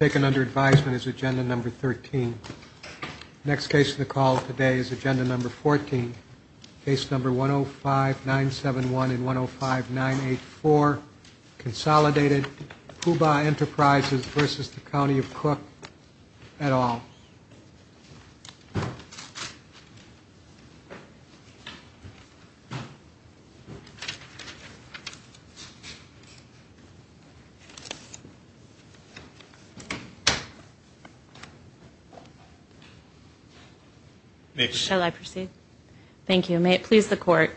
taken under advisement is agenda number 13. Next case in the call today is agenda number 14, case number 105-971 and 105-984, May it please the court,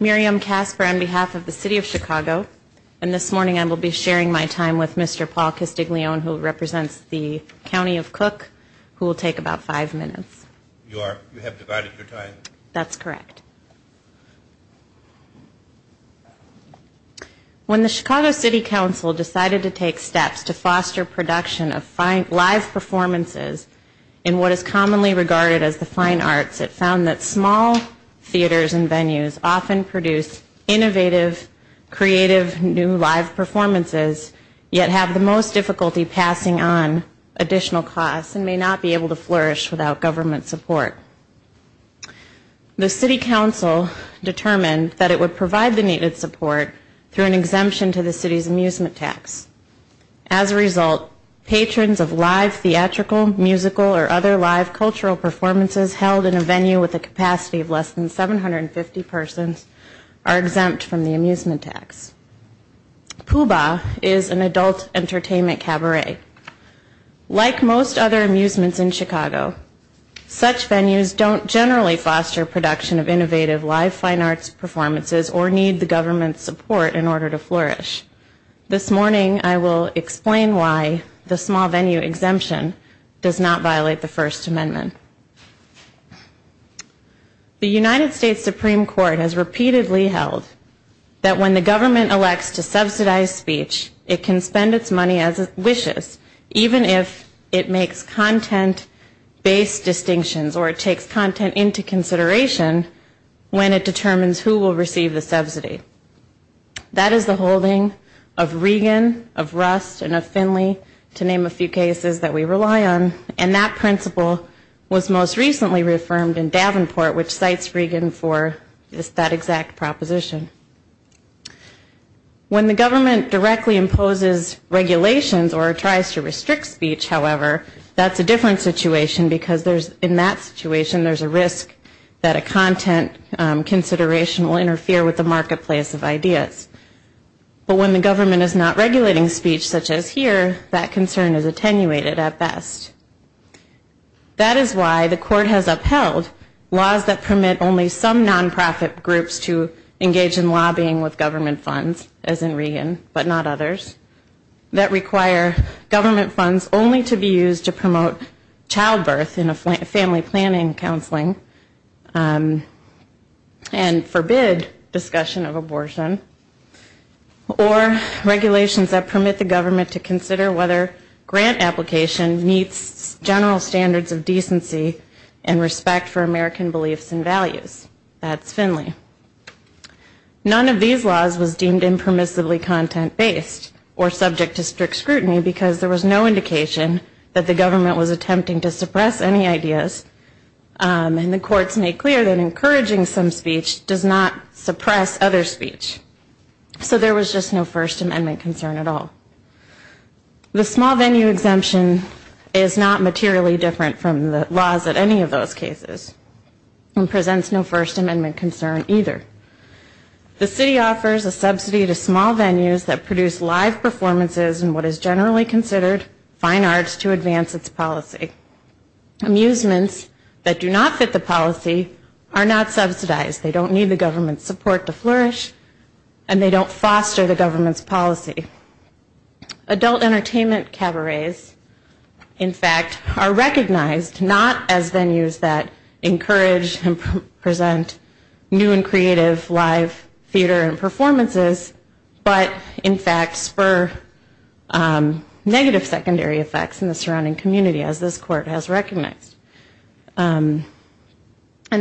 Miriam Casper on behalf of the City of Chicago and this morning I will be sharing my time with Mr. Paul Castiglione who represents the County of Cook who will take about five minutes. You have divided your time. That's correct. When the Chicago City Council decided to take steps to foster production of live performances in what is commonly regarded as the fine arts, it found that small theaters and venues often produce innovative, creative, new live performances yet have the most difficulty passing on additional costs and may not be able to flourish without government support. The City Council determined that it would provide the needed support through an exemption to the City's amusement tax. As a result, patrons of live theatrical, musical, or other live cultural performances held in a venue with a capacity of less than 750 persons are exempt from the amusement tax. Puba is an adult entertainment cabaret. Like most other amusements in Chicago, such venues don't generally foster production of innovative, live fine arts performances or need the government's support in order to flourish. This morning I will explain why the small venue exemption does not violate the First Amendment. The United States Supreme Court has repeatedly held that when the government elects to subsidize speech, it can spend its money as it wishes, even if it makes content-based distinctions or takes content into consideration when it determines who will receive the subsidy. That is the holding of Regan, of Rust, and of Finley, to name a few cases that we rely on, and that principle was most recently reaffirmed in Davenport, which cites Regan for that exact proposition. When the government directly imposes regulations or tries to restrict speech, however, that's a different situation, because in that situation there's a risk that a content consideration will interfere with the marketplace of ideas. But when the government is not regulating speech, such as here, that concern is attenuated at best. That is why the court has upheld laws that permit only some non-profit groups to engage in lobbying with government funds, as in Regan, but not others, that require government funds only to be used to promote childbirth in a family planning counseling, and forbid discussion of abortion, or regulations that permit the government to consider whether grant application meets the requirements of the law. That's Finley. None of these laws was deemed impermissibly content-based, or subject to strict scrutiny, because there was no indication that the government was attempting to suppress any ideas, and the courts made clear that encouraging some speech does not suppress other speech, so there was just no First Amendment concern at all. The small venue exemption is not materially different from the laws at any of those cases, and presents no First Amendment concern either. The city offers a subsidy to small venues that produce live performances in what is generally considered fine arts to advance its policy. Amusements that do not fit the policy are not subsidized. They don't need the government's support to flourish, and they don't foster the government's policy. Adult entertainment cabarets, in fact, are recognized not as venues that encourage and present new and creative live theater and performances, but in fact spur negative secondary effects in the surrounding community, as this Court has recognized. And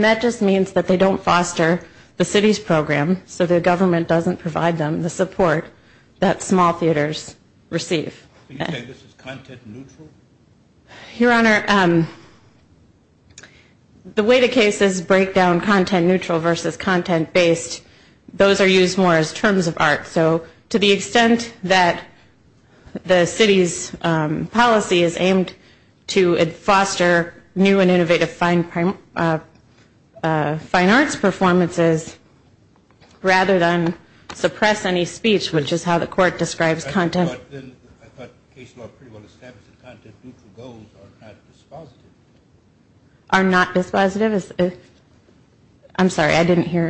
that just means that they don't foster the city's program, so the government doesn't provide them the support that small theaters receive. Do you think this is content-neutral? Your Honor, the way the cases break down content-neutral versus content-based, those are used more as terms of art. So to the extent that the city's policy is aimed to foster new and innovative fine arts performances rather than suppress any speech, which is how the Court describes content... But then I thought the case law pretty well established that content-neutral goals are not dispositive. Are not dispositive? I'm sorry, I didn't hear.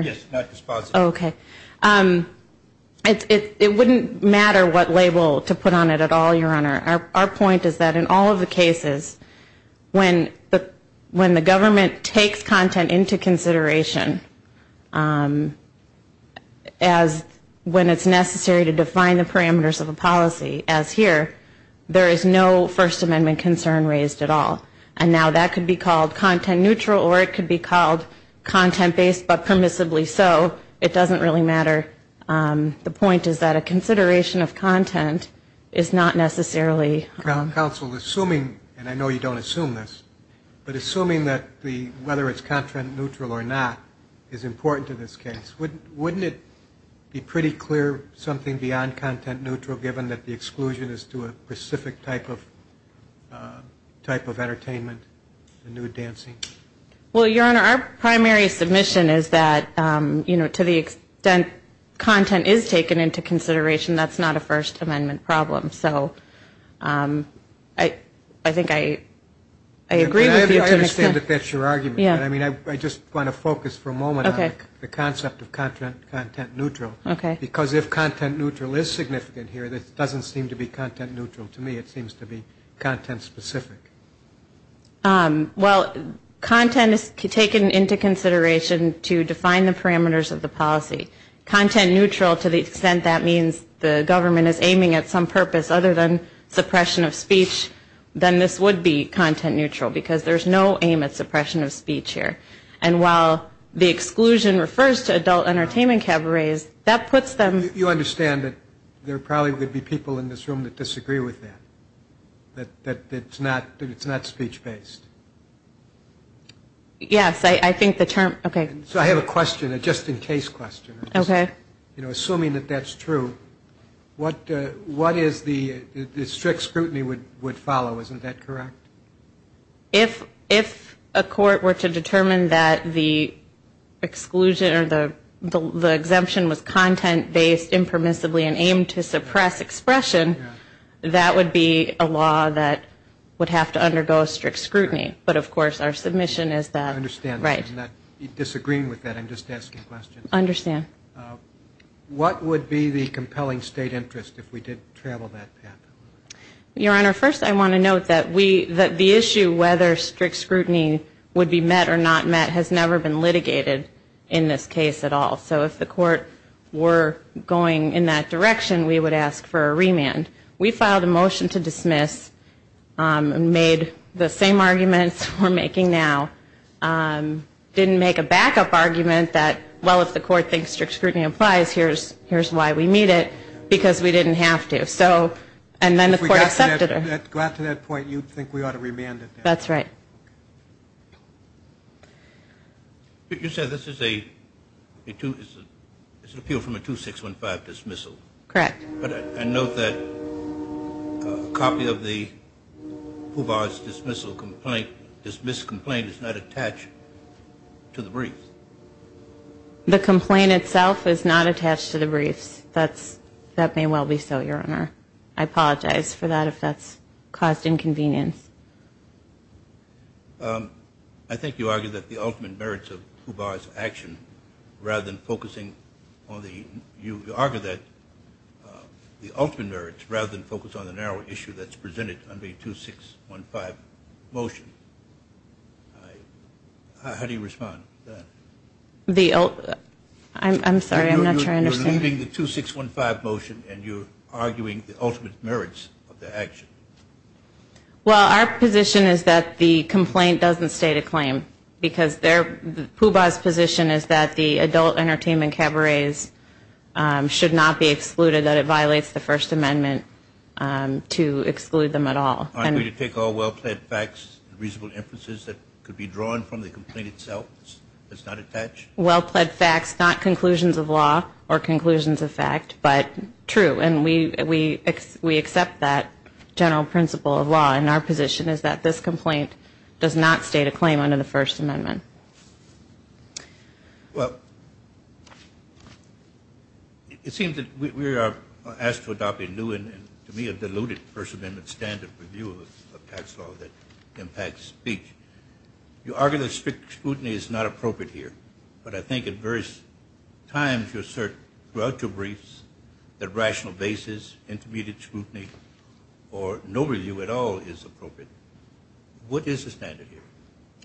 It wouldn't matter what label to put on it at all, Your Honor. Our point is that in all of the cases, when the government takes content into consideration, as when it's necessary to define the parameters of a policy, it's not dispositive. As here, there is no First Amendment concern raised at all. And now that could be called content-neutral or it could be called content-based, but permissibly so, it doesn't really matter. The point is that a consideration of content is not necessarily... Counsel, assuming, and I know you don't assume this, but assuming that whether it's content-neutral or not is important to this case, wouldn't it be pretty clear something beyond content-neutral, given that the extent to which content-neutral is necessary? Exclusion as to a specific type of entertainment and nude dancing? Well, Your Honor, our primary submission is that to the extent content is taken into consideration, that's not a First Amendment problem. So I think I agree with you to an extent. I understand that that's your argument, but I just want to focus for a moment on the concept of content-neutral. Because if content-neutral is significant here, this doesn't seem to be content-neutral. To me, it seems to be content-specific. Well, content is taken into consideration to define the parameters of the policy. Content-neutral to the extent that means the government is aiming at some purpose other than suppression of speech, then this would be content-neutral, because there's no aim at suppression of speech here. And while the exclusion refers to adult entertainment cabarets, that puts them... You understand that there probably would be people in this room that disagree with that, that it's not speech-based? Yes. I think the term... So I have a question, a just-in-case question. Assuming that that's true, what is the strict scrutiny would follow, isn't that correct? If a court were to determine that the exclusion or the exemption was content-based, impermissibly, and aimed to suppress expression, that would be a law that would have to undergo a strict scrutiny. But of course, our submission is that... I understand. I'm not disagreeing with that. I'm just asking questions. What would be the compelling state interest if we did travel that path? Your Honor, first I want to note that the issue whether strict scrutiny would be met or not met has never been litigated in this case at all. So if the court were going in that direction, we would ask for a remand. We filed a motion to dismiss and made the same arguments we're making now. Didn't make a backup argument that, well, if the court thinks strict scrutiny applies, here's why we meet it, because we didn't have to. And then the court accepted it. If we got to that point, you'd think we ought to remand it. That's right. You said this is an appeal from a 2615 dismissal. Correct. But I note that a copy of the Poovar's dismissal complaint, dismissed complaint, is not attached to the briefs. The complaint itself is not attached to the briefs. That may well be so, Your Honor. I apologize for that if that's caused inconvenience. I think you argue that the ultimate merits of Poovar's action, rather than focusing on the... the ultimate merits, rather than focus on the narrow issue that's presented under a 2615 motion. How do you respond to that? I'm sorry, I'm not sure I understand. You're leaving the 2615 motion and you're arguing the ultimate merits of the action. Well, our position is that the complaint doesn't state a claim, because Poovar's position is that the adult entertainment cabarets should not be excluded, that it violates the First Amendment to exclude them at all. Aren't we to take all well-plaid facts, reasonable inferences that could be drawn from the complaint itself that's not attached? Well-plaid facts, not conclusions of law or conclusions of fact, but true. And we accept that general principle of law. And our position is that this complaint does not state a claim under the First Amendment. Well, it seems that we are asked to adopt a new and, to me, a diluted First Amendment standard review of tax law that impacts speech. You argue that strict scrutiny is not appropriate here, but I think at various times you assert, throughout your briefs, that rational basis, intermediate scrutiny, or no review at all is appropriate. What is the standard here?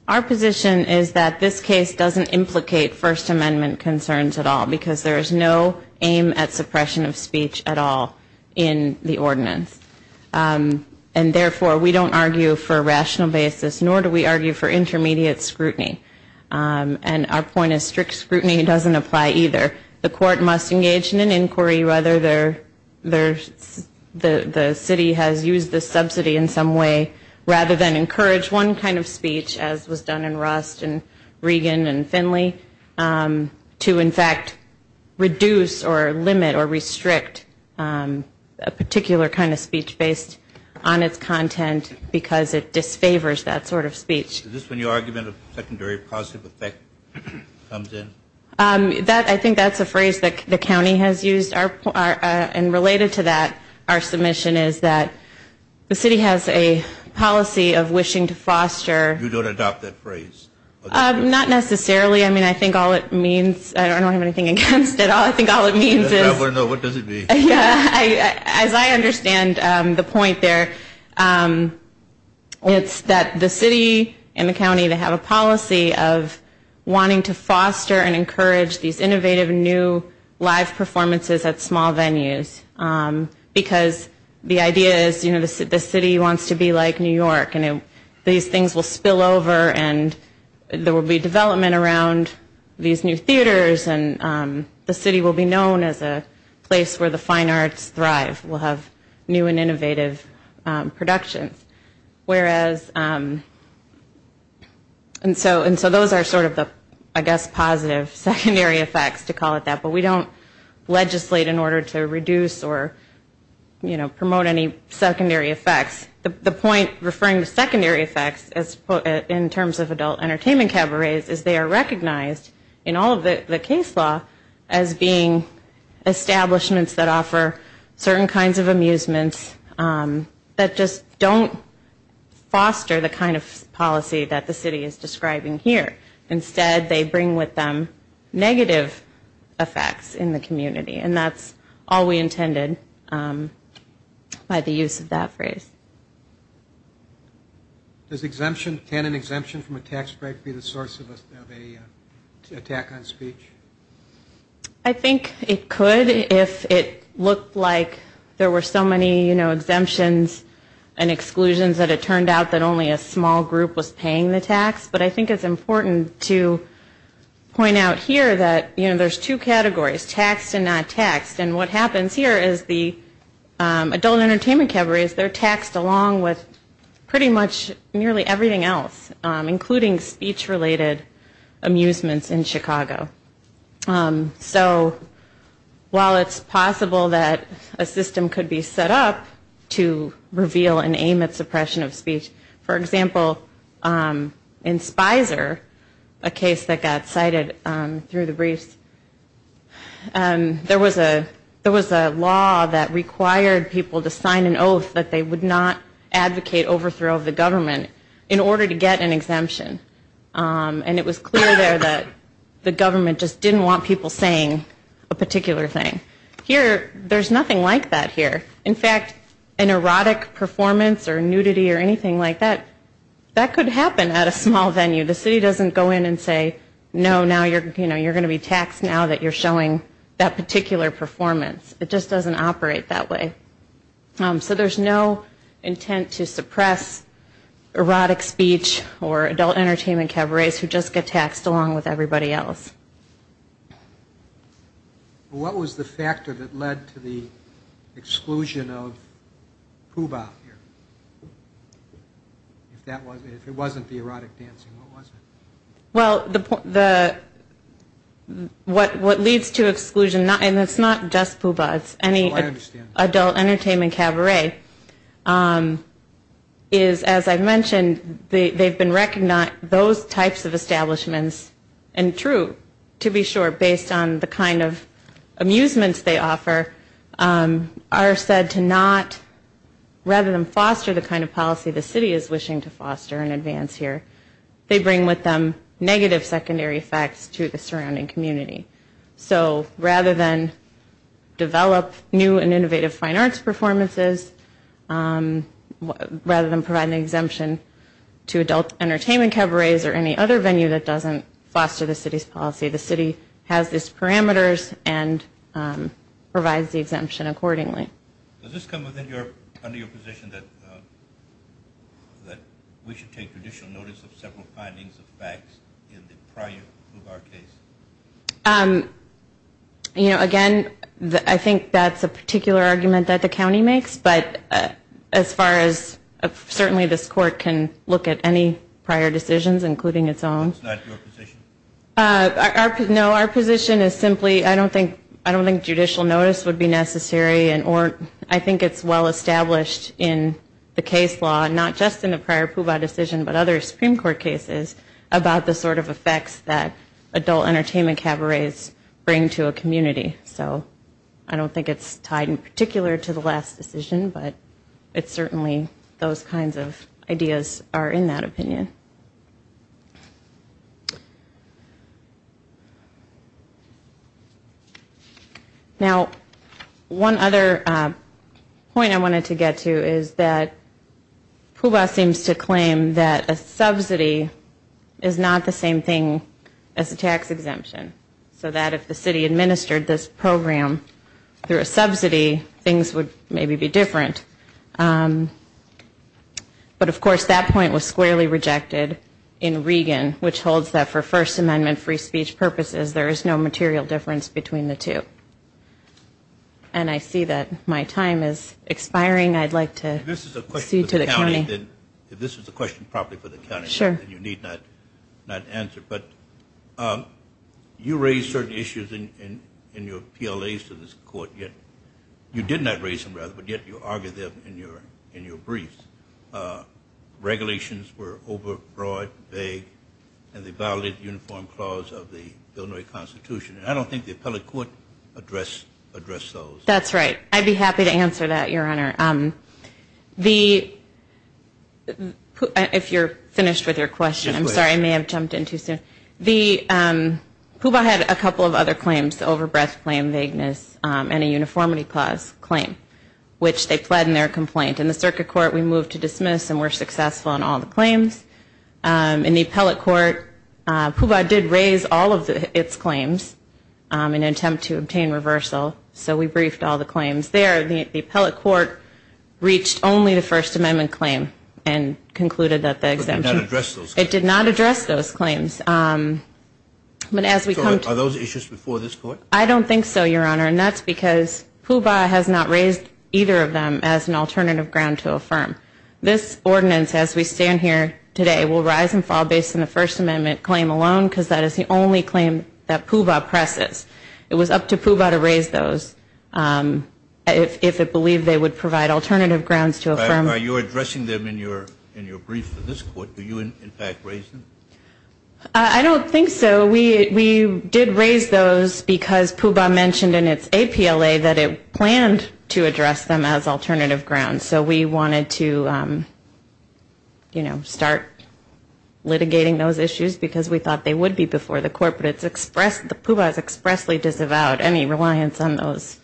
Our position is that this case doesn't implicate First Amendment concerns at all, because there is no aim at suppression of speech at all in the ordinance. And therefore, we don't argue for a rational basis, nor do we argue for intermediate scrutiny. And our point is strict scrutiny doesn't apply either. The court must engage in an inquiry whether the city has used this subsidy in some way, rather than encourage one kind of speech, as was done in Rust and Regan and Finley, to, in fact, reduce or limit or restrict a particular kind of speech based on its content, because it disfavors that sort of speech. Is this when your argument of secondary positive effect comes in? I think that's a phrase that the county has used, and related to that, our submission is that the city has a policy of wishing to foster... You don't adopt that phrase? Not necessarily. I mean, I think all it means, I don't have anything against it, I think all it means is... In the county, they have a policy of wanting to foster and encourage these innovative new live performances at small venues, because the idea is, you know, the city wants to be like New York, and these things will spill over, and there will be development around these new theaters, and the city will be known as a place where the fine arts thrive, will have new and innovative productions. Whereas, and so those are sort of the, I guess, positive secondary effects, to call it that, but we don't legislate in order to reduce or, you know, promote any secondary effects. The point, referring to secondary effects, in terms of adult entertainment cabarets, is they are recognized, in all of the case law, as being establishments that offer certain kinds of amusements, that just don't do anything to promote any secondary effects. They don't foster the kind of policy that the city is describing here. Instead, they bring with them negative effects in the community, and that's all we intended by the use of that phrase. Does exemption, can an exemption from a tax break be the source of an attack on speech? I think it could, if it looked like there were so many, you know, exemptions and exclusions that it turned out that only a small group was paying the tax, but I think it's important to point out here that, you know, there's two categories, taxed and not taxed, and what happens here is the adult entertainment cabarets, they're taxed along with pretty much nearly everything else, including speech-related amusements in Chicago. So while it's possible that a system could be set up to reveal and aim at suppression of speech, for example, in Spicer, a case that got cited through the briefs, there was a law that required people to sign an oath that they would not advocate overthrow of the government in order to get an exemption. And it was clear there that the government just didn't want people saying a particular thing. Here, there's nothing like that here. In fact, an erotic performance or nudity or anything like that, that could happen at a small venue. The city doesn't go in and say, no, now you're going to be taxed now that you're showing that particular performance. It just doesn't operate that way. So there's no intent to suppress erotic speech or adult entertainment cabarets who just get taxed along with everybody else. What was the factor that led to the exclusion of Puba here? If it wasn't the erotic dancing, what was it? Well, what leads to exclusion, and it's not just Puba, it's any adult entertainment cabaret, is, as I've mentioned, they've been recognized, those types of establishments, and true, to be sure, based on the kind of amusements they offer, are said to not, rather than foster the kind of policy the city is wishing to foster in advance here, they bring with them the kind of policy that they want. Negative secondary effects to the surrounding community. So, rather than develop new and innovative fine arts performances, rather than provide an exemption to adult entertainment cabarets or any other venue that doesn't foster the city's policy, the city has its parameters and provides the exemption accordingly. Does this come under your position that we should take traditional notice of several findings of facts that have been found to be erotic? In the prior Puba case? You know, again, I think that's a particular argument that the county makes, but as far as, certainly this court can look at any prior decisions, including its own. That's not your position? No, our position is simply, I don't think judicial notice would be necessary, and I think it's well-established in the case law, not just in the prior Puba decision, but other Supreme Court cases, about the sorts of things that we should do. The sort of effects that adult entertainment cabarets bring to a community. So, I don't think it's tied in particular to the last decision, but it's certainly, those kinds of ideas are in that opinion. Now, one other point I wanted to get to is that Puba seems to claim that a subsidy is not the same thing as an exemption. So that if the city administered this program through a subsidy, things would maybe be different. But, of course, that point was squarely rejected in Regan, which holds that for First Amendment free speech purposes, there is no material difference between the two. And I see that my time is expiring. I'd like to proceed to the county. But, you raised certain issues in your PLAs to this Court. You did not raise them, rather, but yet you argued them in your briefs. Regulations were overbroad, vague, and they violated the Uniform Clause of the Illinois Constitution, and I don't think the appellate court addressed those. That's right. I'd be happy to answer that, Your Honor. If you're finished with your question, I'm sorry, I may have jumped in too soon. Puba had a couple of other claims, the overbreath claim, vagueness, and a uniformity clause claim, which they pled in their complaint. In the circuit court, we moved to dismiss and were successful in all the claims. In the appellate court, Puba did raise all of its claims in an attempt to obtain reversal, so we briefed all the claims there. The appellate court reached only the First Amendment claim and concluded that the exemption... It did not address those claims. Are those issues before this Court? I don't think so, Your Honor, and that's because Puba has not raised either of them as an alternative ground to affirm. This ordinance, as we stand here today, will rise and fall based on the First Amendment claim alone, because that is the only claim that Puba presses. It was up to Puba to raise those if it believed they would provide alternative grounds to affirm. Are you addressing them in your brief for this Court? Do you, in fact, raise them? I don't think so. We did raise those because Puba mentioned in its APLA that it planned to address them as alternative grounds. So we wanted to, you know, start litigating those issues because we thought they would be before the Court. But Puba has expressly disavowed any reliance on those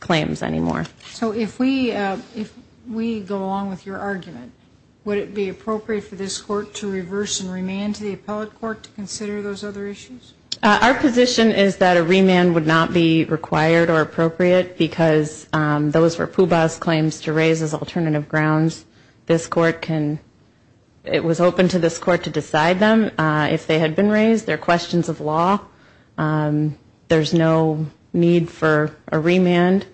claims anymore. So if we go along with your argument, would it be appropriate for this Court to reverse and remand to the appellate court to consider those other issues? Our position is that a remand would not be required or appropriate because those were Puba's claims to raise as alternative grounds. This Court can... It was open to this Court to decide them if they had been raised. They're questions of law. There's no need for a remand.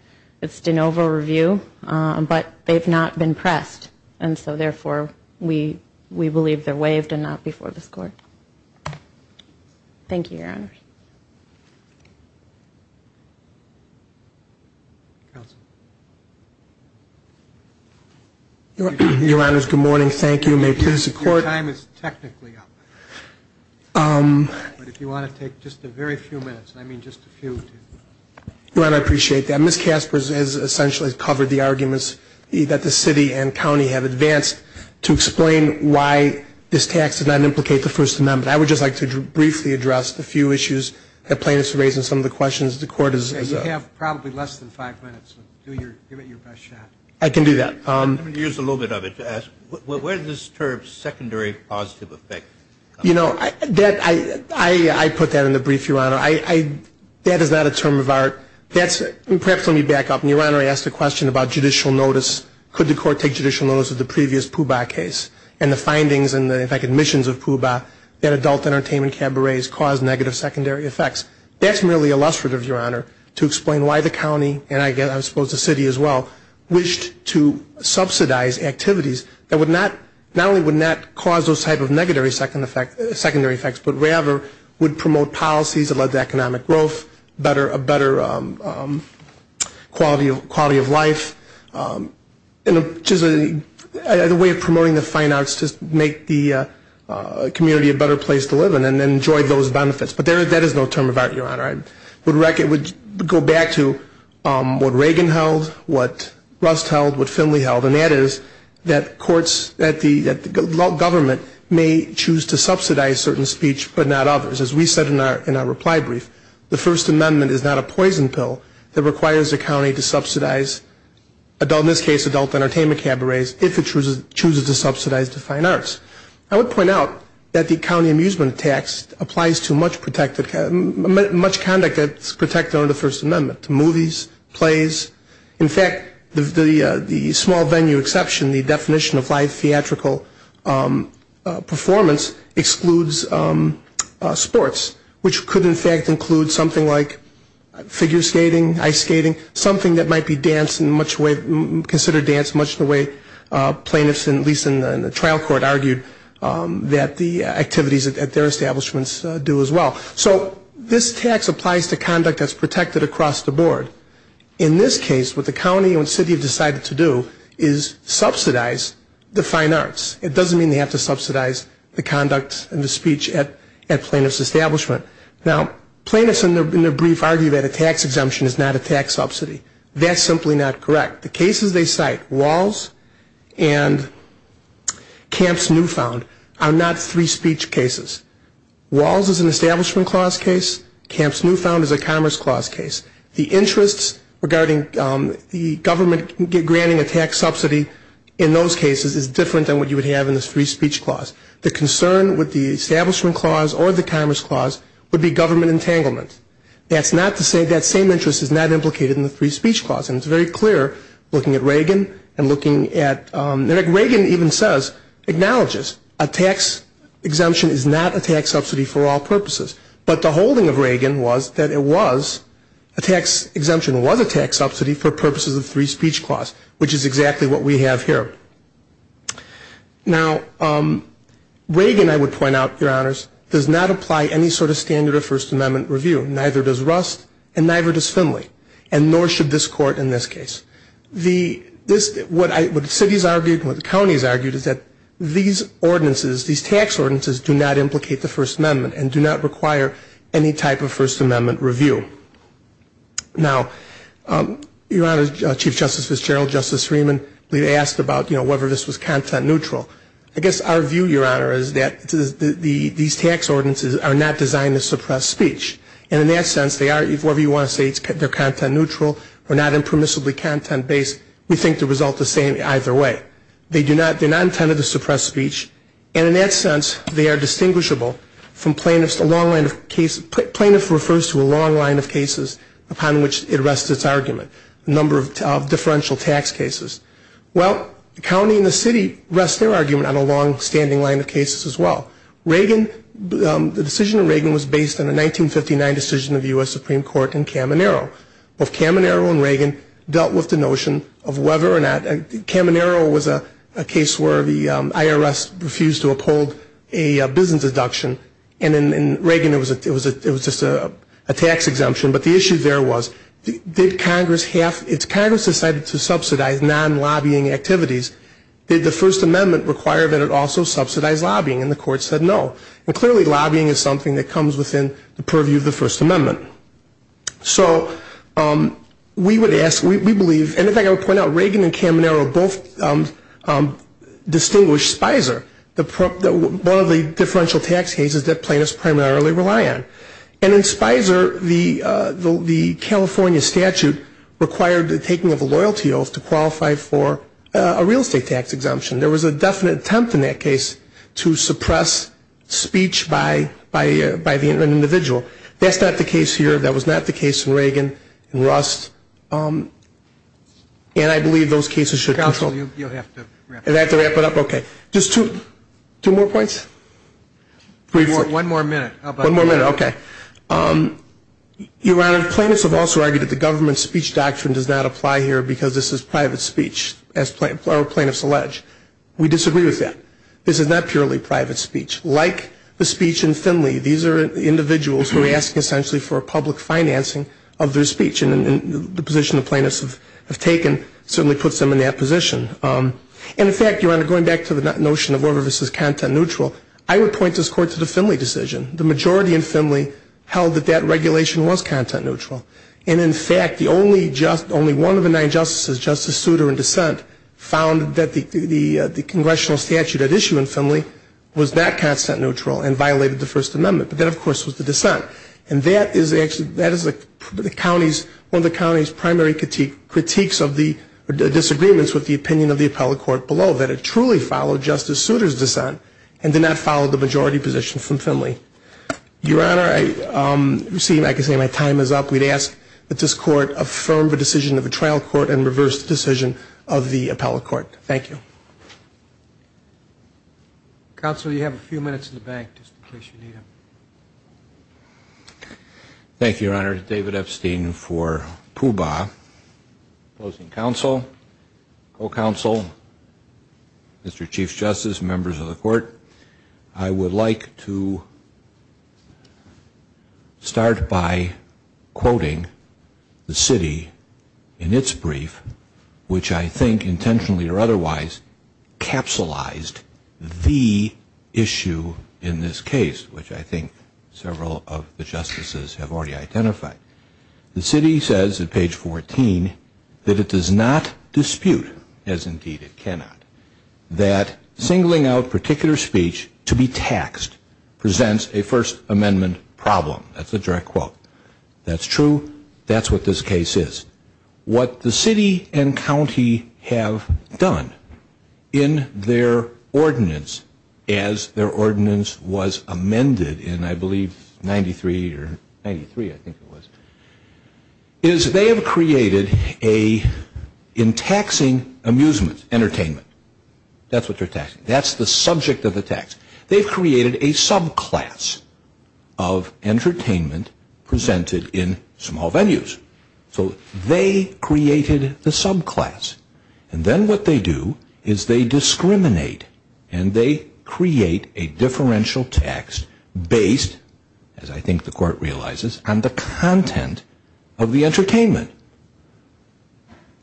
It's de novo review. But they've not been pressed. And so, therefore, we believe they're waived and not before this Court. Thank you, Your Honors. Counsel. Your Honors, good morning. Thank you. May it please the Court. Your time is technically up. But if you want to take just a very few minutes, and I mean just a few. Your Honor, I appreciate that. Ms. Casper has essentially covered the arguments that the City and County have advanced to explain why this tax did not implicate the First Amendment. But I would just like to briefly address a few issues that plaintiffs have raised and some of the questions the Court has... You have probably less than five minutes. Give it your best shot. I can do that. Let me use a little bit of it to ask, where does this term secondary positive effect come from? You know, I put that in the brief, Your Honor. That is not a term of art. Perhaps let me back up. Your Honor, I asked a question about judicial notice. Could the Court take judicial notice of the previous POOBA case and the findings and, in fact, admissions of POOBA that adult entertainment cabarets caused negative secondary effects? That's merely illustrative, Your Honor, to explain why the County, and I suppose the City as well, wished to subsidize activities that not only would not cause those types of negative secondary effects, but rather would promote policies that led to economic growth, a better quality of life, and just a way of promoting the fine arts to make the community a better place to live in and enjoy those benefits. But that is no term of art, Your Honor. I would go back to what Reagan held, what Rust held, what Finley held, and that is that courts, that the government may choose to subsidize certain speech but not others. As we said in our reply brief, the First Amendment is not a poison pill that requires a county to subsidize adult, in this case adult entertainment cabarets, if it chooses to subsidize the fine arts. I would point out that the county amusement tax applies to much conduct that's protected under the First Amendment, to movies, plays. In fact, the small venue exception, the definition of live theatrical performance excludes sports, which could in fact include something like figure skating, ice skating, something that might be considered dance much the way plaintiffs, at least in the trial court, argued that the activities at their establishments do as well. So this tax applies to conduct that's protected across the board. In this case, what the county and city have decided to do is subsidize the fine arts. It doesn't mean they have to subsidize the conduct and the speech at plaintiff's establishment. Now, plaintiffs in their brief argue that a tax exemption is not a tax subsidy. That's simply not correct. The cases they cite, Walls and Camp's Newfound, are not three speech cases. Walls is an establishment clause case, Camp's Newfound is a commerce clause case. The interests regarding the government granting a tax subsidy in those cases is different than what you would have in the three speech clause. The concern with the establishment clause or the commerce clause would be government entanglement. That's not to say that same interest is not implicated in the three speech clause, and it's very clear looking at Reagan and looking at, Reagan even says, acknowledges a tax exemption is not a tax subsidy for all purposes. But the holding of Reagan was that it was, a tax exemption was a tax subsidy for purposes of three speech clause, which is exactly what we have here. Now, Reagan, I would point out, Your Honors, does not apply any sort of standard of First Amendment review. Neither does Rust, and neither does Finley, and nor should this Court in this case. The, this, what I, what the city has argued and what the county has argued is that these ordinances, these tax ordinances, do not implicate the First Amendment and do not require any type of First Amendment review. Now, Your Honors, Chief Justice Fitzgerald, Justice Freeman, we've asked about, you know, whether this was content neutral. I guess our view, Your Honor, is that these tax ordinances are not designed to suppress speech. And in that sense, they are, whatever you want to say, they're content neutral or not impermissibly content based, we think the result is the same either way. They do not, they're not intended to suppress speech, and in that sense, they are distinguishable from plaintiffs, plaintiff refers to a long line of cases upon which it rests its argument, a number of differential tax cases. Well, the county and the city rest their argument on a longstanding line of cases as well. Reagan, the decision of Reagan was based on a 1959 decision of the U.S. Supreme Court in Caminero. Both Caminero and Reagan dealt with the notion of whether or not, Caminero was a case where the IRS refused to uphold a business deduction, and in Reagan, it was just a tax exemption. But the issue there was, did Congress have, if Congress decided to subsidize non-lobbying activities, did the First Amendment require that it also subsidize lobbying? And the court said no. And clearly, lobbying is something that comes within the purview of the First Amendment. So we would ask, we believe, and if I could point out, Reagan and Caminero both distinguished Spicer, one of the differential tax cases that plaintiffs primarily rely on. And in Spicer, the California statute required the taking of a loyalty oath to qualify for a real estate tax exemption. There was a definite attempt in that case to suppress speech by the individual. That's not the case here. That was not the case in Reagan and Rust. And I believe those cases should counsel. Counsel, you'll have to wrap it up. I'll have to wrap it up. Okay. Just two more points? One more minute. Okay. Your Honor, plaintiffs have also argued that the government speech doctrine does not apply here because this is private speech, as our plaintiffs allege. We disagree with that. This is not purely private speech. Like the speech in Finley, these are individuals who are asking essentially for a public financing of their speech. And the position the plaintiffs have taken certainly puts them in that position. And in fact, Your Honor, going back to the notion of order versus content neutral, I would point this Court to the Finley decision. The majority in Finley held that that regulation was content neutral. And in fact, only one of the nine justices, Justice Souter in dissent, found that the congressional statute at issue in Finley was not content neutral and violated the First Amendment. But that, of course, was the dissent. And that is one of the county's primary critiques of the disagreements with the opinion of the appellate court below, that it truly followed Justice Souter's dissent and did not follow the majority position from Finley. Your Honor, I can see my time is up. We'd ask that this Court affirm the decision of the trial court and reverse the decision of the appellate court. Thank you. Counsel, you have a few minutes in the back, just in case you need it. Thank you, Your Honor. David Epstein for Puba. Opposing counsel, co-counsel, Mr. Chief Justice, members of the Court, I would like to start by quoting the city in its brief, which I think intentionally or otherwise capsulized the issue in this case, which I think several of the justices have already identified. The city says at page 14 that it does not dispute, as indeed it cannot, that singling out particular speech to be taxed presents a First Amendment problem. That's a direct quote. That's true. That's what this case is. What the city and county have done in their ordinance as their ordinance was amended in, I believe, 93 or 93, I think it was, is they have created a in taxing amusement, entertainment. That's what they're taxing. That's the subject of the tax. They've created a subclass of entertainment presented in small venues. So they created the subclass, and then what they do is they discriminate, and they create a differential tax based, as I think the Court realizes, on the content of the entertainment.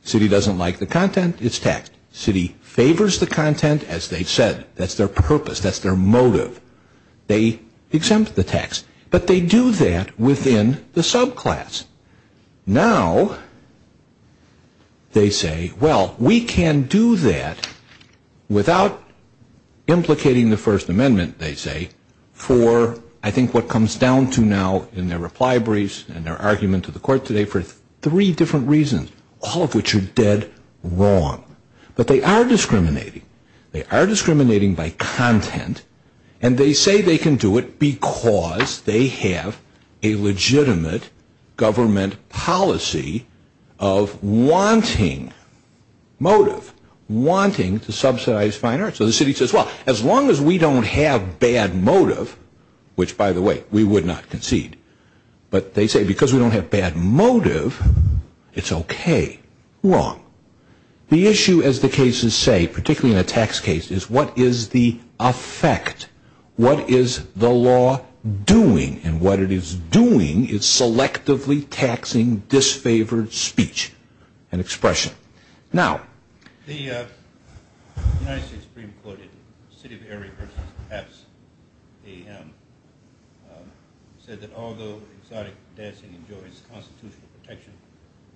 City doesn't like the content. It's taxed. City favors the content, as they said. That's their purpose. That's their motive. They exempt the tax, but they do that within the subclass. Now they say, well, we can do that without implicating the First Amendment, they say, for I think what comes down to now in their reply briefs and their argument to the Court today for three different reasons, all of which are dead wrong. But they are discriminating. They are discriminating by content, and they say they can do it because they have a legitimate government policy of wanting motive, wanting to subsidize fine arts. So the city says, well, as long as we don't have bad motive, which, by the way, we would not concede, but they say because we don't have bad motive, it's okay. Wrong. The issue, as the cases say, particularly in a tax case, is what is the effect? What is the law doing? And what it is doing is selectively taxing disfavored speech and expression. Now, the United States Supreme Court in the City of Erie versus Pabst AM said that although exotic dancing enjoys constitutional protection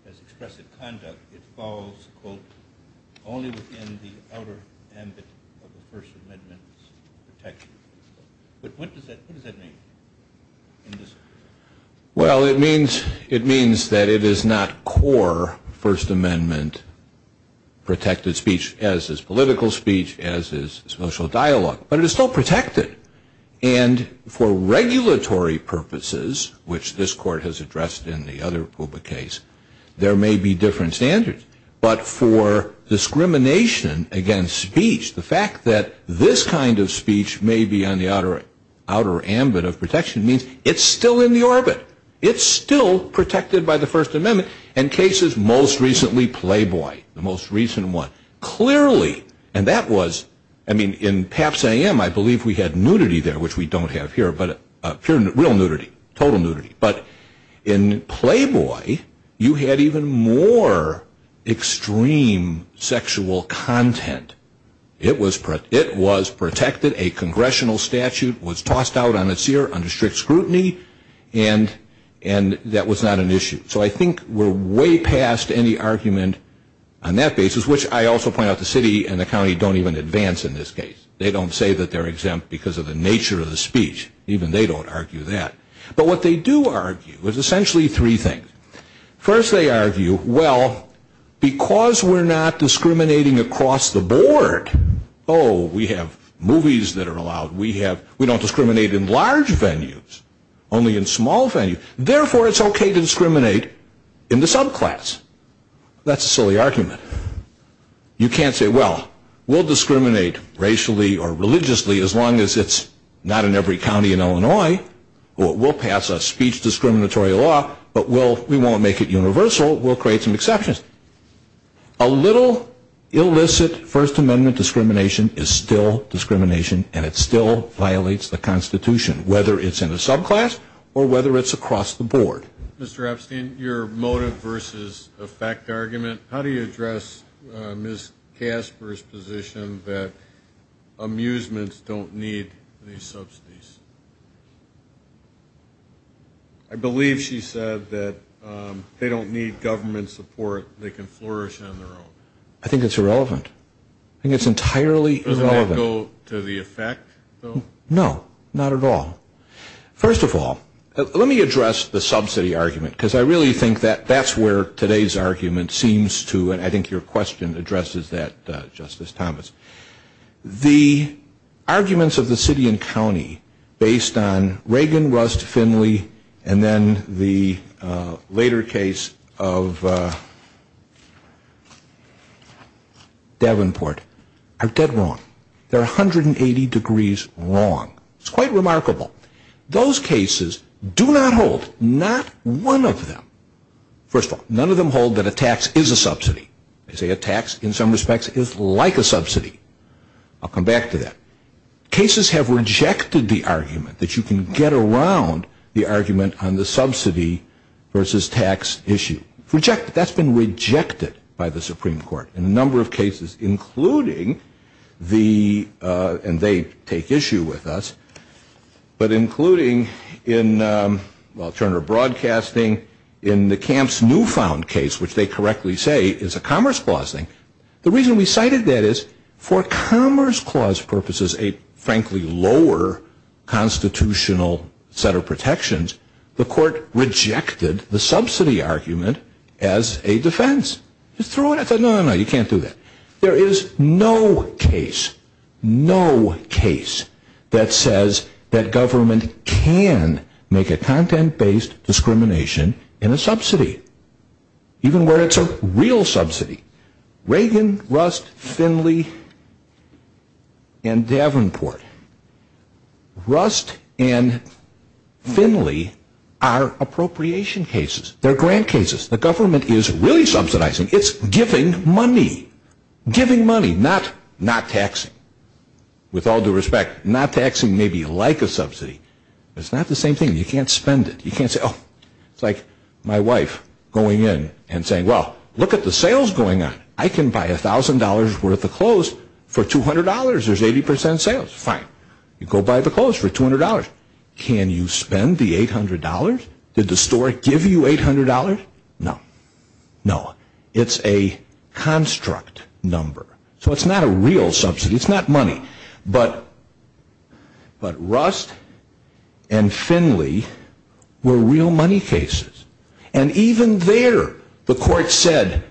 as expressive conduct, it falls, quote, only within the outer ambit of the First Amendment's protection. But what does that mean? Well, it means that it is not core First Amendment protected speech, as is political speech, as is social dialogue. But it is still protected. And for regulatory purposes, which this Court has addressed in the other PUBA case, there may be different standards. But for regulatory purposes, it may be on the outer ambit of protection. It means it's still in the orbit. It's still protected by the First Amendment. In cases most recently, Playboy, the most recent one, clearly, and that was, I mean, in Pabst AM, I believe we had nudity there, which we don't have here, but real nudity, total nudity. But in Playboy, you had even more extreme sexual content. It was protected. A congressional statute was tossed out on its ear under strict scrutiny, and that was not an issue. So I think we're way past any argument on that basis, which I also point out the city and the county don't even advance in this case. They don't say that they're exempt because of the nature of the speech. Even they don't argue that. But what they do argue is essentially three things. First, they argue, well, because we're not discriminating across the board, oh, we have movies that are allowed. We have, we don't discriminate in large venues, only in small venues. Therefore, it's okay to discriminate in the subclass. That's a silly argument. You can't say, well, we'll discriminate racially or religiously as long as it's not in every county in Illinois, or we'll pass a speech discriminatory law, but we won't make it universal. We'll create some exceptions. A little illicit First Amendment discrimination is still discrimination, and it still violates the Constitution, whether it's in a subclass or whether it's across the board. Mr. Epstein, your motive versus effect argument, how do you address Ms. Casper's position that amusements don't need these subsidies? I believe she said that they don't need government support. They can flourish on their own. I think it's irrelevant. I think it's entirely irrelevant. Doesn't that go to the effect, though? No, not at all. First of all, let me address the subsidy argument seems to, and I think your question addresses that, Justice Thomas. The arguments of the city and county based on Reagan, Rust, Finley, and then the later case of Davenport are dead wrong. They're 180 degrees wrong. It's quite remarkable. Those cases do not hold, not one of them. First of all, none of them hold that a tax is a subsidy. They say a tax, in some respects, is like a subsidy. I'll come back to that. Cases have rejected the argument that you can get around the argument on the subsidy versus tax issue. That's been rejected by the Supreme Court in a number of cases, including the, and they take issue with us, but including in, well, Turner Broadcasting, in the Camp's Newfound case, which they correctly say is a Commerce Clause thing. The reason we cited that is for Commerce Clause purposes, a frankly lower constitutional set of protections, the court rejected the subsidy argument as a defense. I said, no, no, no, you can't do that. There is no case, no case that says that government can make a content-based discrimination in a subsidy, even where it's a real subsidy. Reagan, Rust, Finley, and Davenport. Rust and Finley are appropriation cases. They're grant cases. The government is really subsidizing. It's giving money. Giving money, not taxing. With all due respect, not taxing may be like a subsidy, but it's not the same thing. You can't spend it. You can't say, oh, it's like my wife going in and saying, well, look at the sales going on. I can buy $1,000 worth of clothes for $200. There's 80% sales. Fine. You go buy the clothes for $200. Can you spend the $800? Did the store give you $800? No. No. It's a construct number. So it's not a real subsidy. It's not money. But Rust and Finley were real money cases. And even there, the court said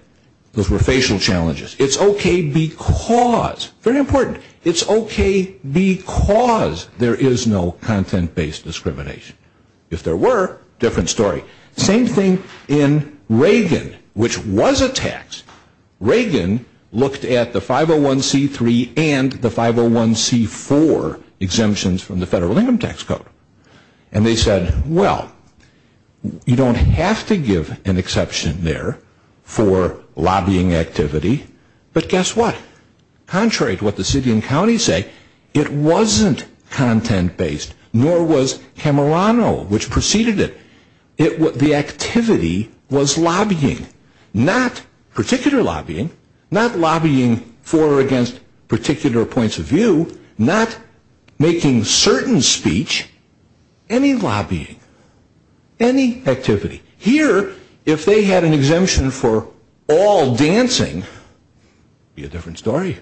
those were facial challenges. It's okay because, very important, it's okay because there is no content-based discrimination. If there were, different story. Same thing in Reagan, which was a tax. Reagan looked at the 501c3 and the 501c4 exemptions from the Federal Income Tax Code. And they said, well, you don't have to give an exception there for lobbying activity. But guess what? Contrary to what the city and county say, it wasn't content-based, nor was Camerlano, which preceded it. The activity was lobbying. Not particular lobbying. Not lobbying for or against particular points of lobbying. Any activity. Here, if they had an exemption for all dancing, it would be a different story.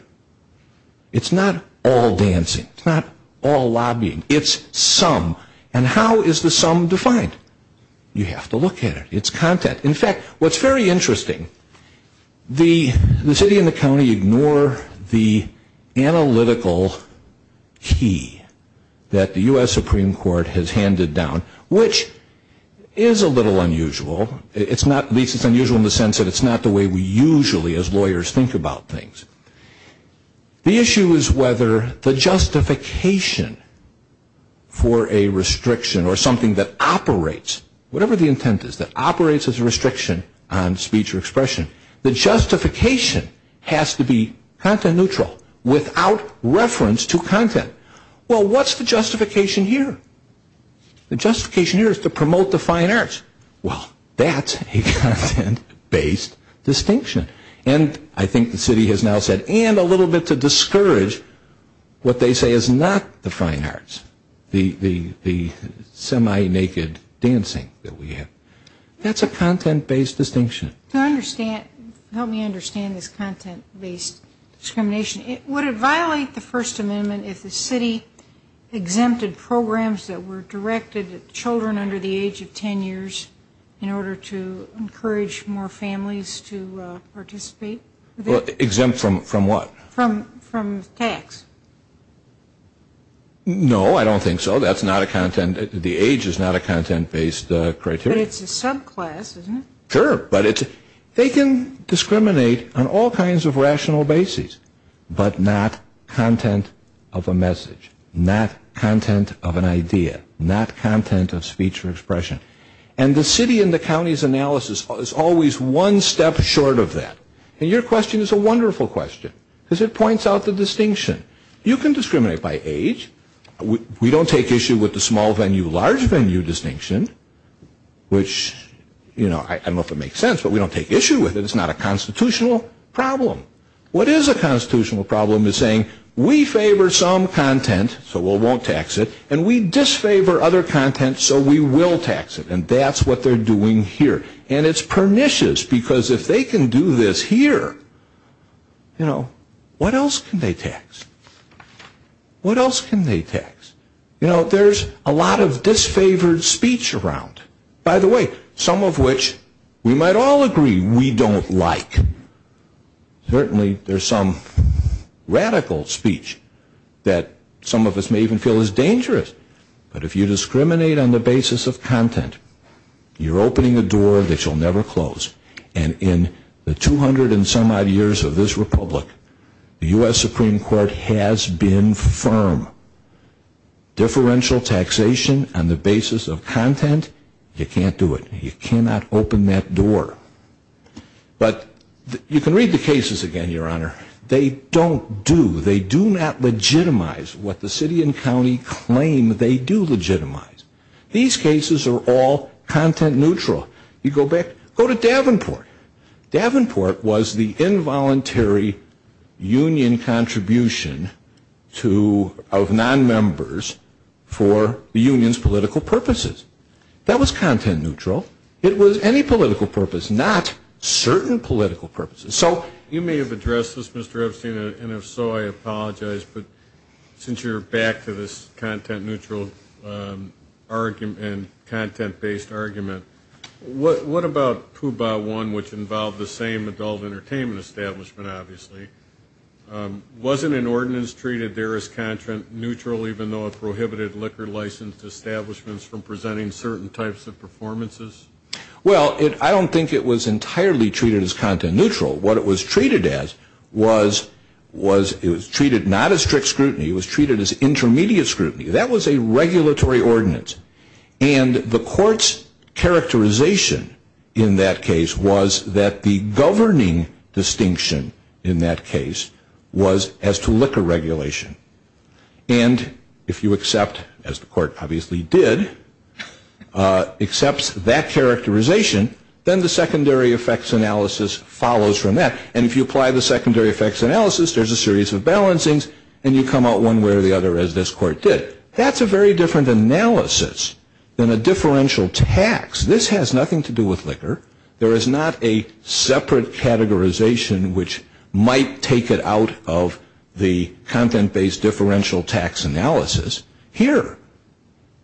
It's not all dancing. It's not all lobbying. It's some. And how is the some defined? You have to look at it. It's content. In fact, what's very interesting, the city and the county ignore the analytical key that the U.S. Supreme Court has handed down, which is a little unusual. It's not, at least it's unusual in the sense that it's not the way we usually as lawyers think about things. The issue is whether the justification for a restriction or something that operates, whatever the intent is, that operates as a restriction on speech or expression, the justification has to be content neutral without reference to content. Well, what's the justification here? The justification here is to promote the fine arts. Well, that's a content-based distinction. And I think the city has now said, and a little bit to discourage what they say is not the fine arts, the semi-naked dancing that we have. That's a content-based distinction. Help me understand this content-based discrimination. Would it violate the First Amendment if the city exempted programs that were directed at children under the age of 10 years in order to encourage more families to participate? Exempt from what? From tax. No, I don't think so. That's not a content, the age is not a content-based criteria. But it's a subclass, isn't it? Sure, but it's, they can discriminate on all kinds of rational bases, but not content of a message, not content of an idea, not content of speech or expression. And the city and the county's analysis is always one step short of that. And your question is a wonderful question, because it points out the distinction. You can discriminate by age. We don't take issue with the small venue, large venue distinction, which, you know, I don't know if it makes sense, but we don't take issue with it. It's not a constitutional problem. What is a constitutional problem is saying, we favor some content, so we won't tax it, and we disfavor other content, so we will tax it. And that's what they're doing here. And it's pernicious, because if they can do this here, you know, what else can they tax? What else can they tax? You know, there's a lot of disfavored speech around. By the way, some of which we might all agree we don't like. Certainly there's some radical speech that some of us may even feel is dangerous. But if you discriminate on the basis of content, you're opening a door that shall never close. And in the 200 and some odd years of this republic, the U.S. Supreme Court has been firm. Differential taxation on the basis of content, you can't do it. You cannot open that door. But you can read the cases again, Your Honor. They don't do, they do not legitimize what the city and county claim they do legitimize. These cases are all content neutral. You go back, go to Davenport. Davenport was the involuntary union contribution to, of nonmembers for the union's political purposes. That was content neutral. It was any political purpose, not certain political purposes. You may have addressed this, Mr. Epstein, and if so, I apologize. But since you're back to this content neutral argument and content based argument, what about Puba One, which involved the same adult entertainment establishment, obviously? Wasn't an ordinance treated there as content neutral, even though it prohibited liquor licensed establishments from presenting certain types of performances? Well, I don't think it was entirely treated as content neutral. What it was treated as was it was treated not as strict scrutiny. It was treated as intermediate scrutiny. That was a regulatory ordinance. And the court's characterization in that case was that the governing distinction in that case was as to liquor regulation. And if you accept, as the court obviously did, accepts that characterization, then the secondary effects analysis follows from that. And if you apply the secondary effects analysis, there's a series of balancings, and you come out one way or the other, as this court did. That's a very different analysis than a differential tax. This has nothing to do with liquor. There is not a separate categorization which might take it out of the content based differential tax analysis here.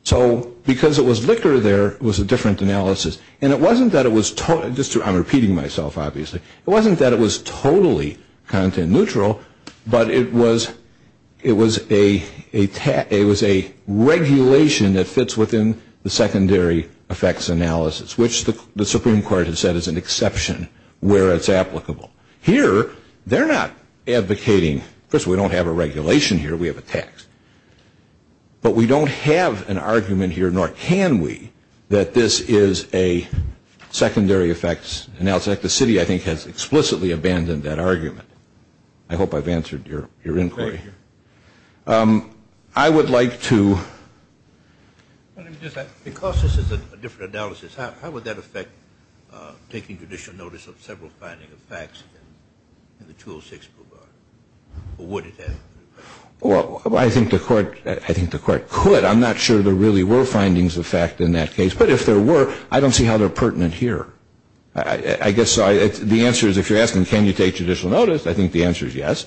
So because it was liquor there, it was a different analysis. And it wasn't that it was totally, I'm repeating myself obviously, it wasn't that it was totally content neutral, but it was a regulation that fits within the secondary effects analysis, which the Supreme Court has said is an exception where it's applicable. Here, they're not advocating, of course we don't have a regulation here, we have a tax. But we don't have an argument here, nor can we, that this is a secondary effects analysis. The city I think has explicitly abandoned that argument. I hope I've answered your inquiry. I would like to. Because this is a different analysis, how would that affect taking judicial notice of several findings of facts in the 206 program? Or would it have? Well, I think the court could. I'm not sure there really were findings of fact in that case. But if there were, I don't see how they're pertinent here. I guess the answer is if you're taking judicial notice, I think the answer is yes.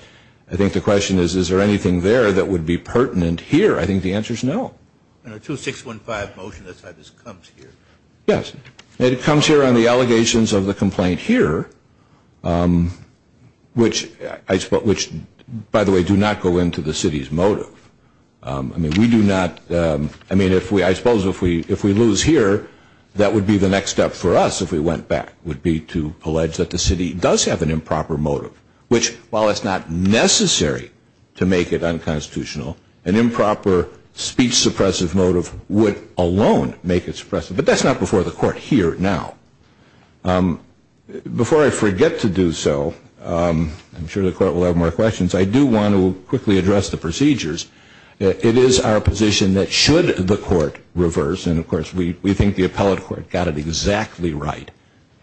I think the question is, is there anything there that would be pertinent here? I think the answer is no. And a 2615 motion, that's how this comes here. Yes. It comes here on the allegations of the complaint here, which, by the way, do not go into the city's motive. I mean, we do not, I suppose if we lose here, that would be the next step for us if we went back, would be to allege that the city does have an improper motive. Which, while it's not necessary to make it unconstitutional, an improper speech suppressive motive would alone make it suppressive. But that's not before the court here now. Before I forget to do so, I'm sure the court will have more questions, I do want to quickly address the procedures. It is our position that should the court reverse, and of course we think the appellate court got it exactly right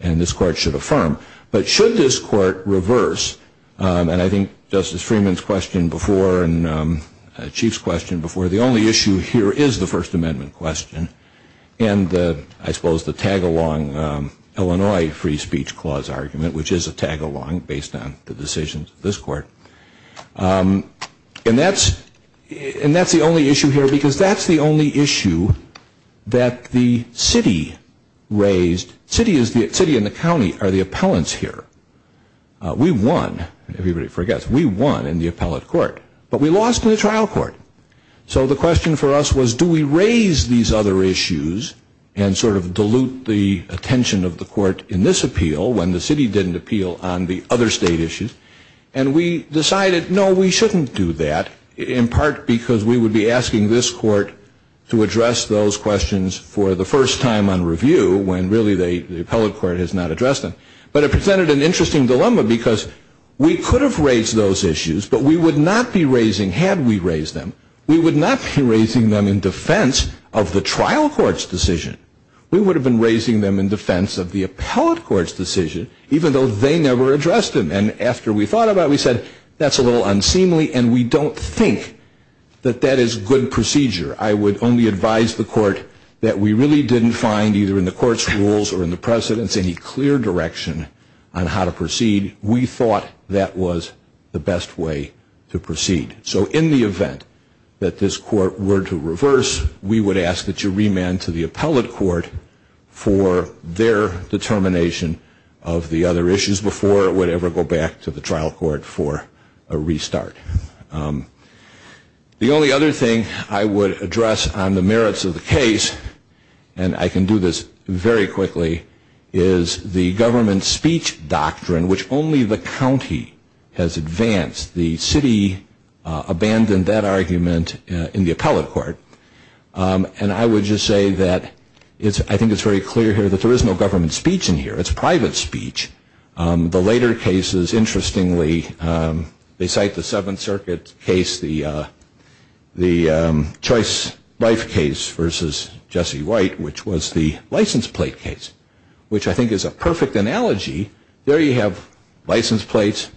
and this court should affirm, but should this court reverse, and I think Justice Freeman's question before and Chief's question before, the only issue here is the First Amendment question, and I suppose the tag-along Illinois Free Speech Clause argument, which is a tag-along based on the decisions of this court. And that's the only issue here because that's the only issue that the city raised. The city and the county are the appellants here. We won, everybody forgets, we won in the appellate court, but we lost in the trial court. So the question for us was do we raise these other issues and sort of dilute the attention of the court in this appeal when the city didn't appeal on the other state issues, and we decided no, we shouldn't do that, in part because we would be asking this court to address those questions for the first time on review when really the appellate court has not addressed them. But it presented an interesting dilemma because we could have raised those issues, but we would not be raising had we raised them. We would not be raising them in defense of the trial court's decision. We would have been raising them in defense of the appellate court's decision, even though they never addressed them. And after we thought about it, we said that's a little unseemly and we don't think that that is good procedure. I would only advise the court that we really didn't find either in the court's rules or in the precedent's any clear direction on how to proceed. We thought that was the best way to proceed. So in the event that this court were to reverse, we would ask that you remand to the appellate court for their determination of the other issues before it would ever go back to the trial court for a restart. The only other thing I would address on the merits of the case, and I can do this very quickly, is the government speech doctrine, which only the county has advanced. The city abandoned that argument in the appellate court. And I would just say that I think it's very clear here that there is no government speech in here. It's private speech. The later cases, interestingly, they cite the Seventh Circuit case, the Choice Life case versus Jesse White, which was the license plate case, which I think is a perfect analogy. There you have license plates.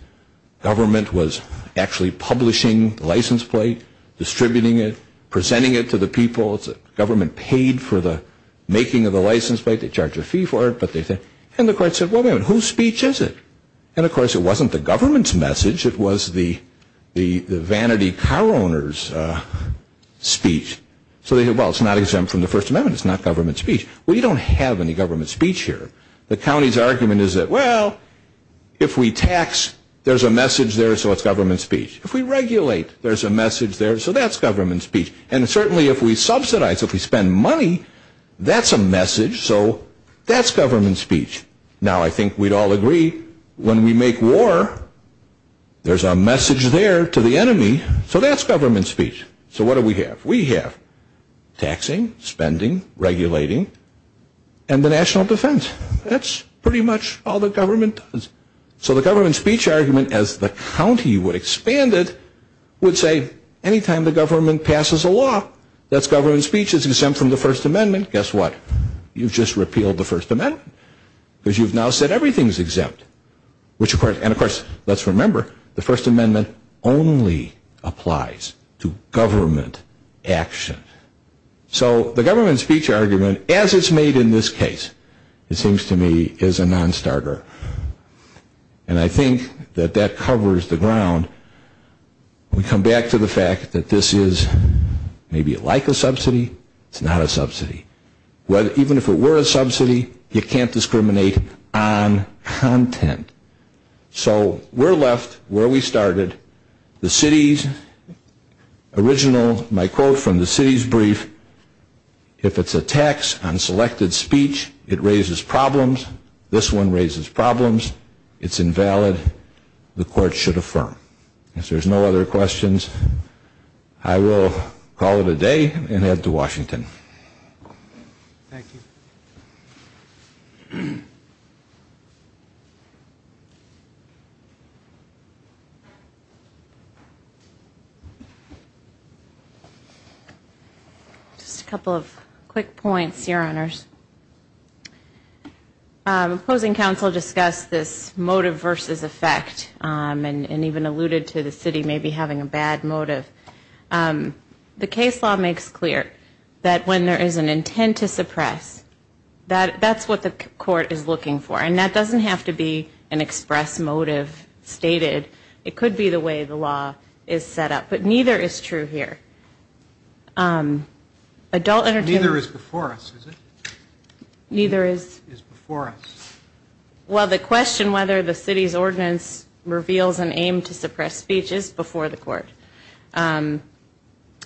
Government was actually publishing the license plate, distributing it, presenting it to the people. The government paid for the making of the license plate. They charged a fee for it, but they said, and the court said, well, wait a minute, whose speech is it? And, of course, it wasn't the government's message. It was the vanity car owner's speech. So they said, well, it's not exempt from the First Amendment. It's not government speech. We don't have any government speech here. The county's argument is that, well, if we tax, there's a message there, so it's government speech. If we regulate, there's a message there, so that's government speech. And certainly if we subsidize, if we spend money, that's a message, so that's government speech. Now, I think we'd all agree, when we make war, there's a message there to the enemy, so that's government speech. So what do we have? We have taxing, spending, regulating, and the national defense. That's pretty much all the government does. So the government speech argument, as the county would expand it, would say, anytime the government passes a law, that's government speech. It's exempt from the First Amendment. Guess what? You've just repealed the First Amendment because you've now said everything's exempt. And, of course, let's remember, the First Amendment only applies to government action. So the government speech argument, as it's made in this case, it seems to me is a nonstarter. And I think that that covers the ground. We come back to the fact that this is maybe like a subsidy. It's not a subsidy. Even if it were a subsidy, you can't discriminate on content. So we're left where we started. The city's original, my quote from the city's brief, if it's a tax on selected speech, it raises problems. This one raises problems. It's invalid. The court should affirm. If there's no other questions, I will call it a day and head to Washington. Thank you. Just a couple of quick points, Your Honors. Opposing counsel discussed this motive versus effect and even alluded to the city maybe having a bad motive. The case law makes clear that when there is an intent to suppress, that's what the court is looking for. And that doesn't have to be an express motive stated. It could be the way the law is set up. But neither is true here. Adult entertainment. Neither is before us, is it? Neither is before us. Well, the question whether the city's ordinance reveals an aim to suppress speech is before the court. And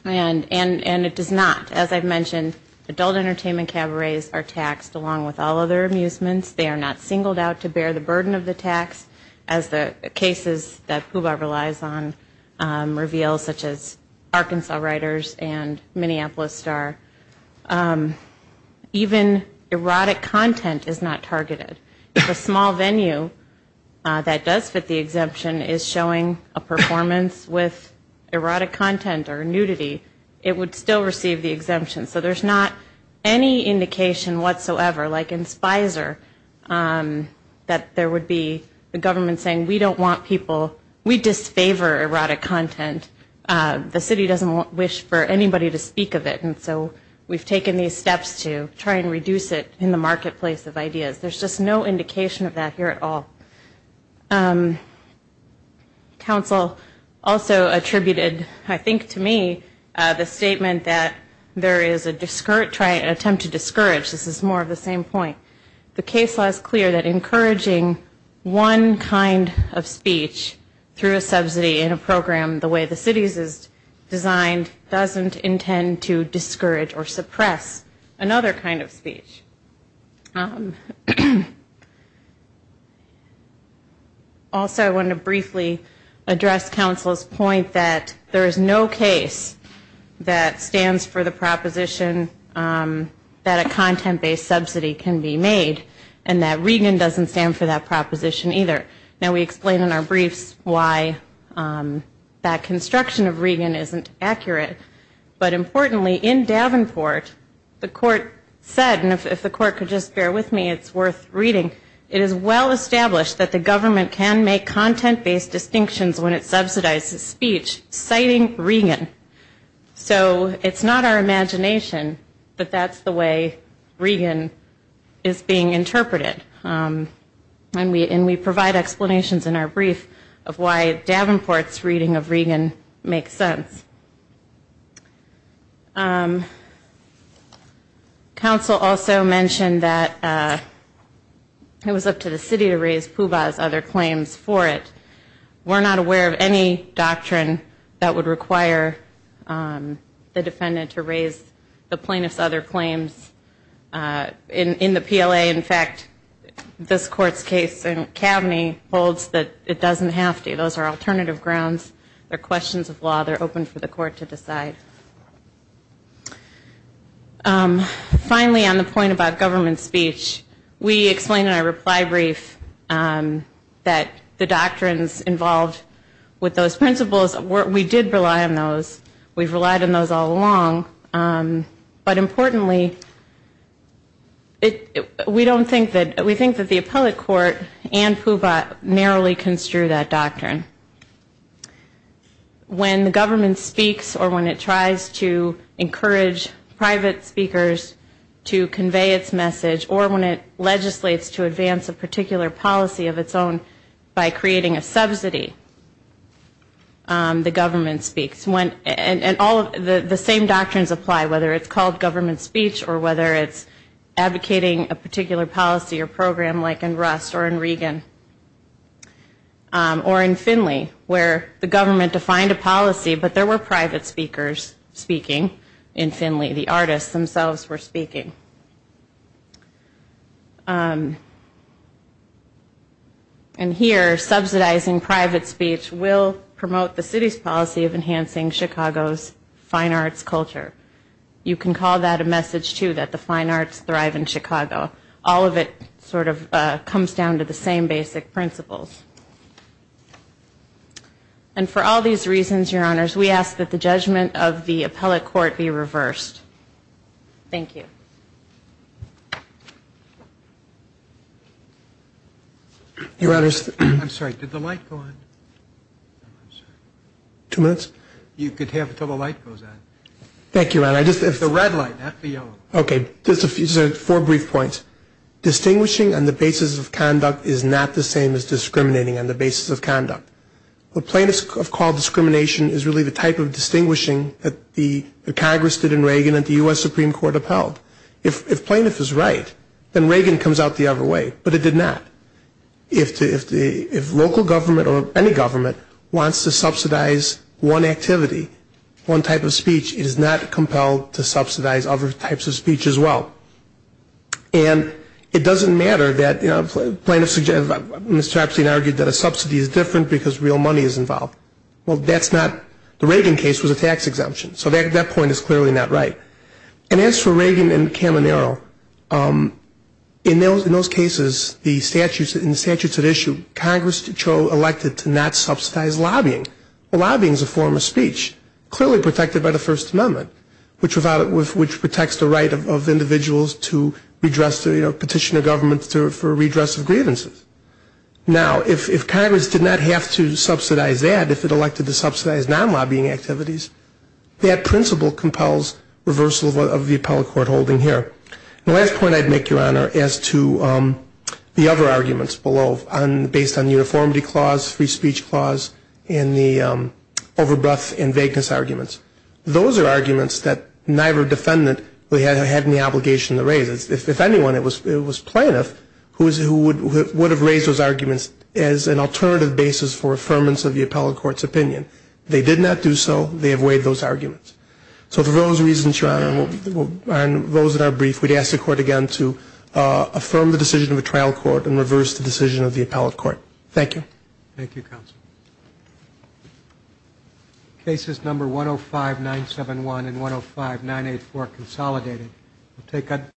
it does not. As I've mentioned, adult entertainment cabarets are taxed along with all other amusements. They are not singled out to bear the burden of the tax. As the cases that Puba relies on reveal, such as Arkansas Writers and Minneapolis Star, even erotic content is not targeted. If a small venue that does fit the exemption is showing a performance with erotic content or nudity, it would still receive the exemption. So there's not any indication whatsoever, like in Spicer, that there would be the government saying we don't want people, we disfavor erotic content. The city doesn't wish for anybody to speak of it. And so we've taken these steps to try and reduce it in the marketplace of ideas. There's just no indication of that here at all. Council also attributed, I think to me, the statement that there is an attempt to discourage. This is more of the same point. The case law is clear that encouraging one kind of speech through a subsidy in a program the way the city's is designed doesn't intend to discourage or suppress another kind of speech. Also, I want to briefly address Council's point that there is no case that stands for the proposition that a content-based subsidy can be made, and that Regan doesn't stand for that proposition either. Now, we explain in our briefs why that construction of Regan isn't accurate. But importantly, in Davenport, the court said, and if the court could just bear with me, it's worth reading, it is well established that the government can make content-based distinctions when it subsidizes speech, citing Regan. So it's not our imagination, but that's the way Regan is being interpreted. And we provide explanations in our brief of why Davenport's reading of Regan makes sense. Council also mentioned that it was up to the city to raise Puba's other claims for it. We're not aware of any doctrine that would require the defendant to raise the plaintiff's other claims in the PLA. In fact, this court's case in Kaveny holds that it doesn't have to. Those are alternative grounds. They're questions of law. They're open for the court to decide. Finally, on the point about government speech, we explain in our reply brief that the doctrines involved with those principles, we did rely on those. We've relied on those all along. But importantly, we think that the appellate court and Puba narrowly construe that doctrine. When the government speaks or when it tries to encourage private speakers to convey its message or when it legislates to advance a particular policy of its own by creating a subsidy, the government speaks. And all of the same doctrines apply, whether it's called government speech or whether it's advocating a particular policy or program like in Rust or in Regan or in Finley, where the government defined a policy, but there were private speakers speaking in Finley. The artists themselves were speaking. And here, subsidizing private speech will promote the city's policy of enhancing Chicago's fine arts culture. You can call that a message, too, that the fine arts thrive in Chicago. All of it sort of comes down to the same basic principles. And for all these reasons, Your Honors, we ask that the judgment of the appellate court be reversed. Thank you. Your Honors. I'm sorry. Did the light go on? Two minutes? You could have until the light goes on. Thank you, Your Honor. The red light, not the yellow. Okay. Just four brief points. Distinguishing on the basis of conduct is not the same as discriminating on the basis of conduct. What plaintiffs have called discrimination is really the type of distinguishing that the Congress did in Regan and the U.S. Supreme Court upheld. If plaintiff is right, then Regan comes out the other way. But it did not. If local government or any government wants to subsidize one activity, one type of speech, it is not compelled to subsidize other types of speech as well. And it doesn't matter that plaintiffs argue that a subsidy is different because real money is involved. Well, that's not. The Regan case was a tax exemption. So that point is clearly not right. And as for Regan and Caminero, in those cases, in the statutes at issue, Congress chose elected to not subsidize lobbying. Lobbying is a form of speech, clearly protected by the First Amendment, which protects the right of individuals to petition the government for redress of grievances. Now, if Congress did not have to subsidize that, if it elected to subsidize non-lobbying activities, that principle compels reversal of the appellate court holding here. The last point I'd make, Your Honor, as to the other arguments below, based on uniformity clause, free speech clause, and the overbreadth and vagueness arguments, those are arguments that neither defendant had any obligation to raise. If anyone, it was plaintiff who would have raised those arguments as an alternative basis for affirmance of the appellate court's opinion. They did not do so. They have weighed those arguments. So for those reasons, Your Honor, and those that are brief, we'd ask the Court again to affirm the decision of the trial court and reverse the decision of the appellate court. Thank you. Thank you, counsel. Cases number 105-971 and 105-984 are consolidated.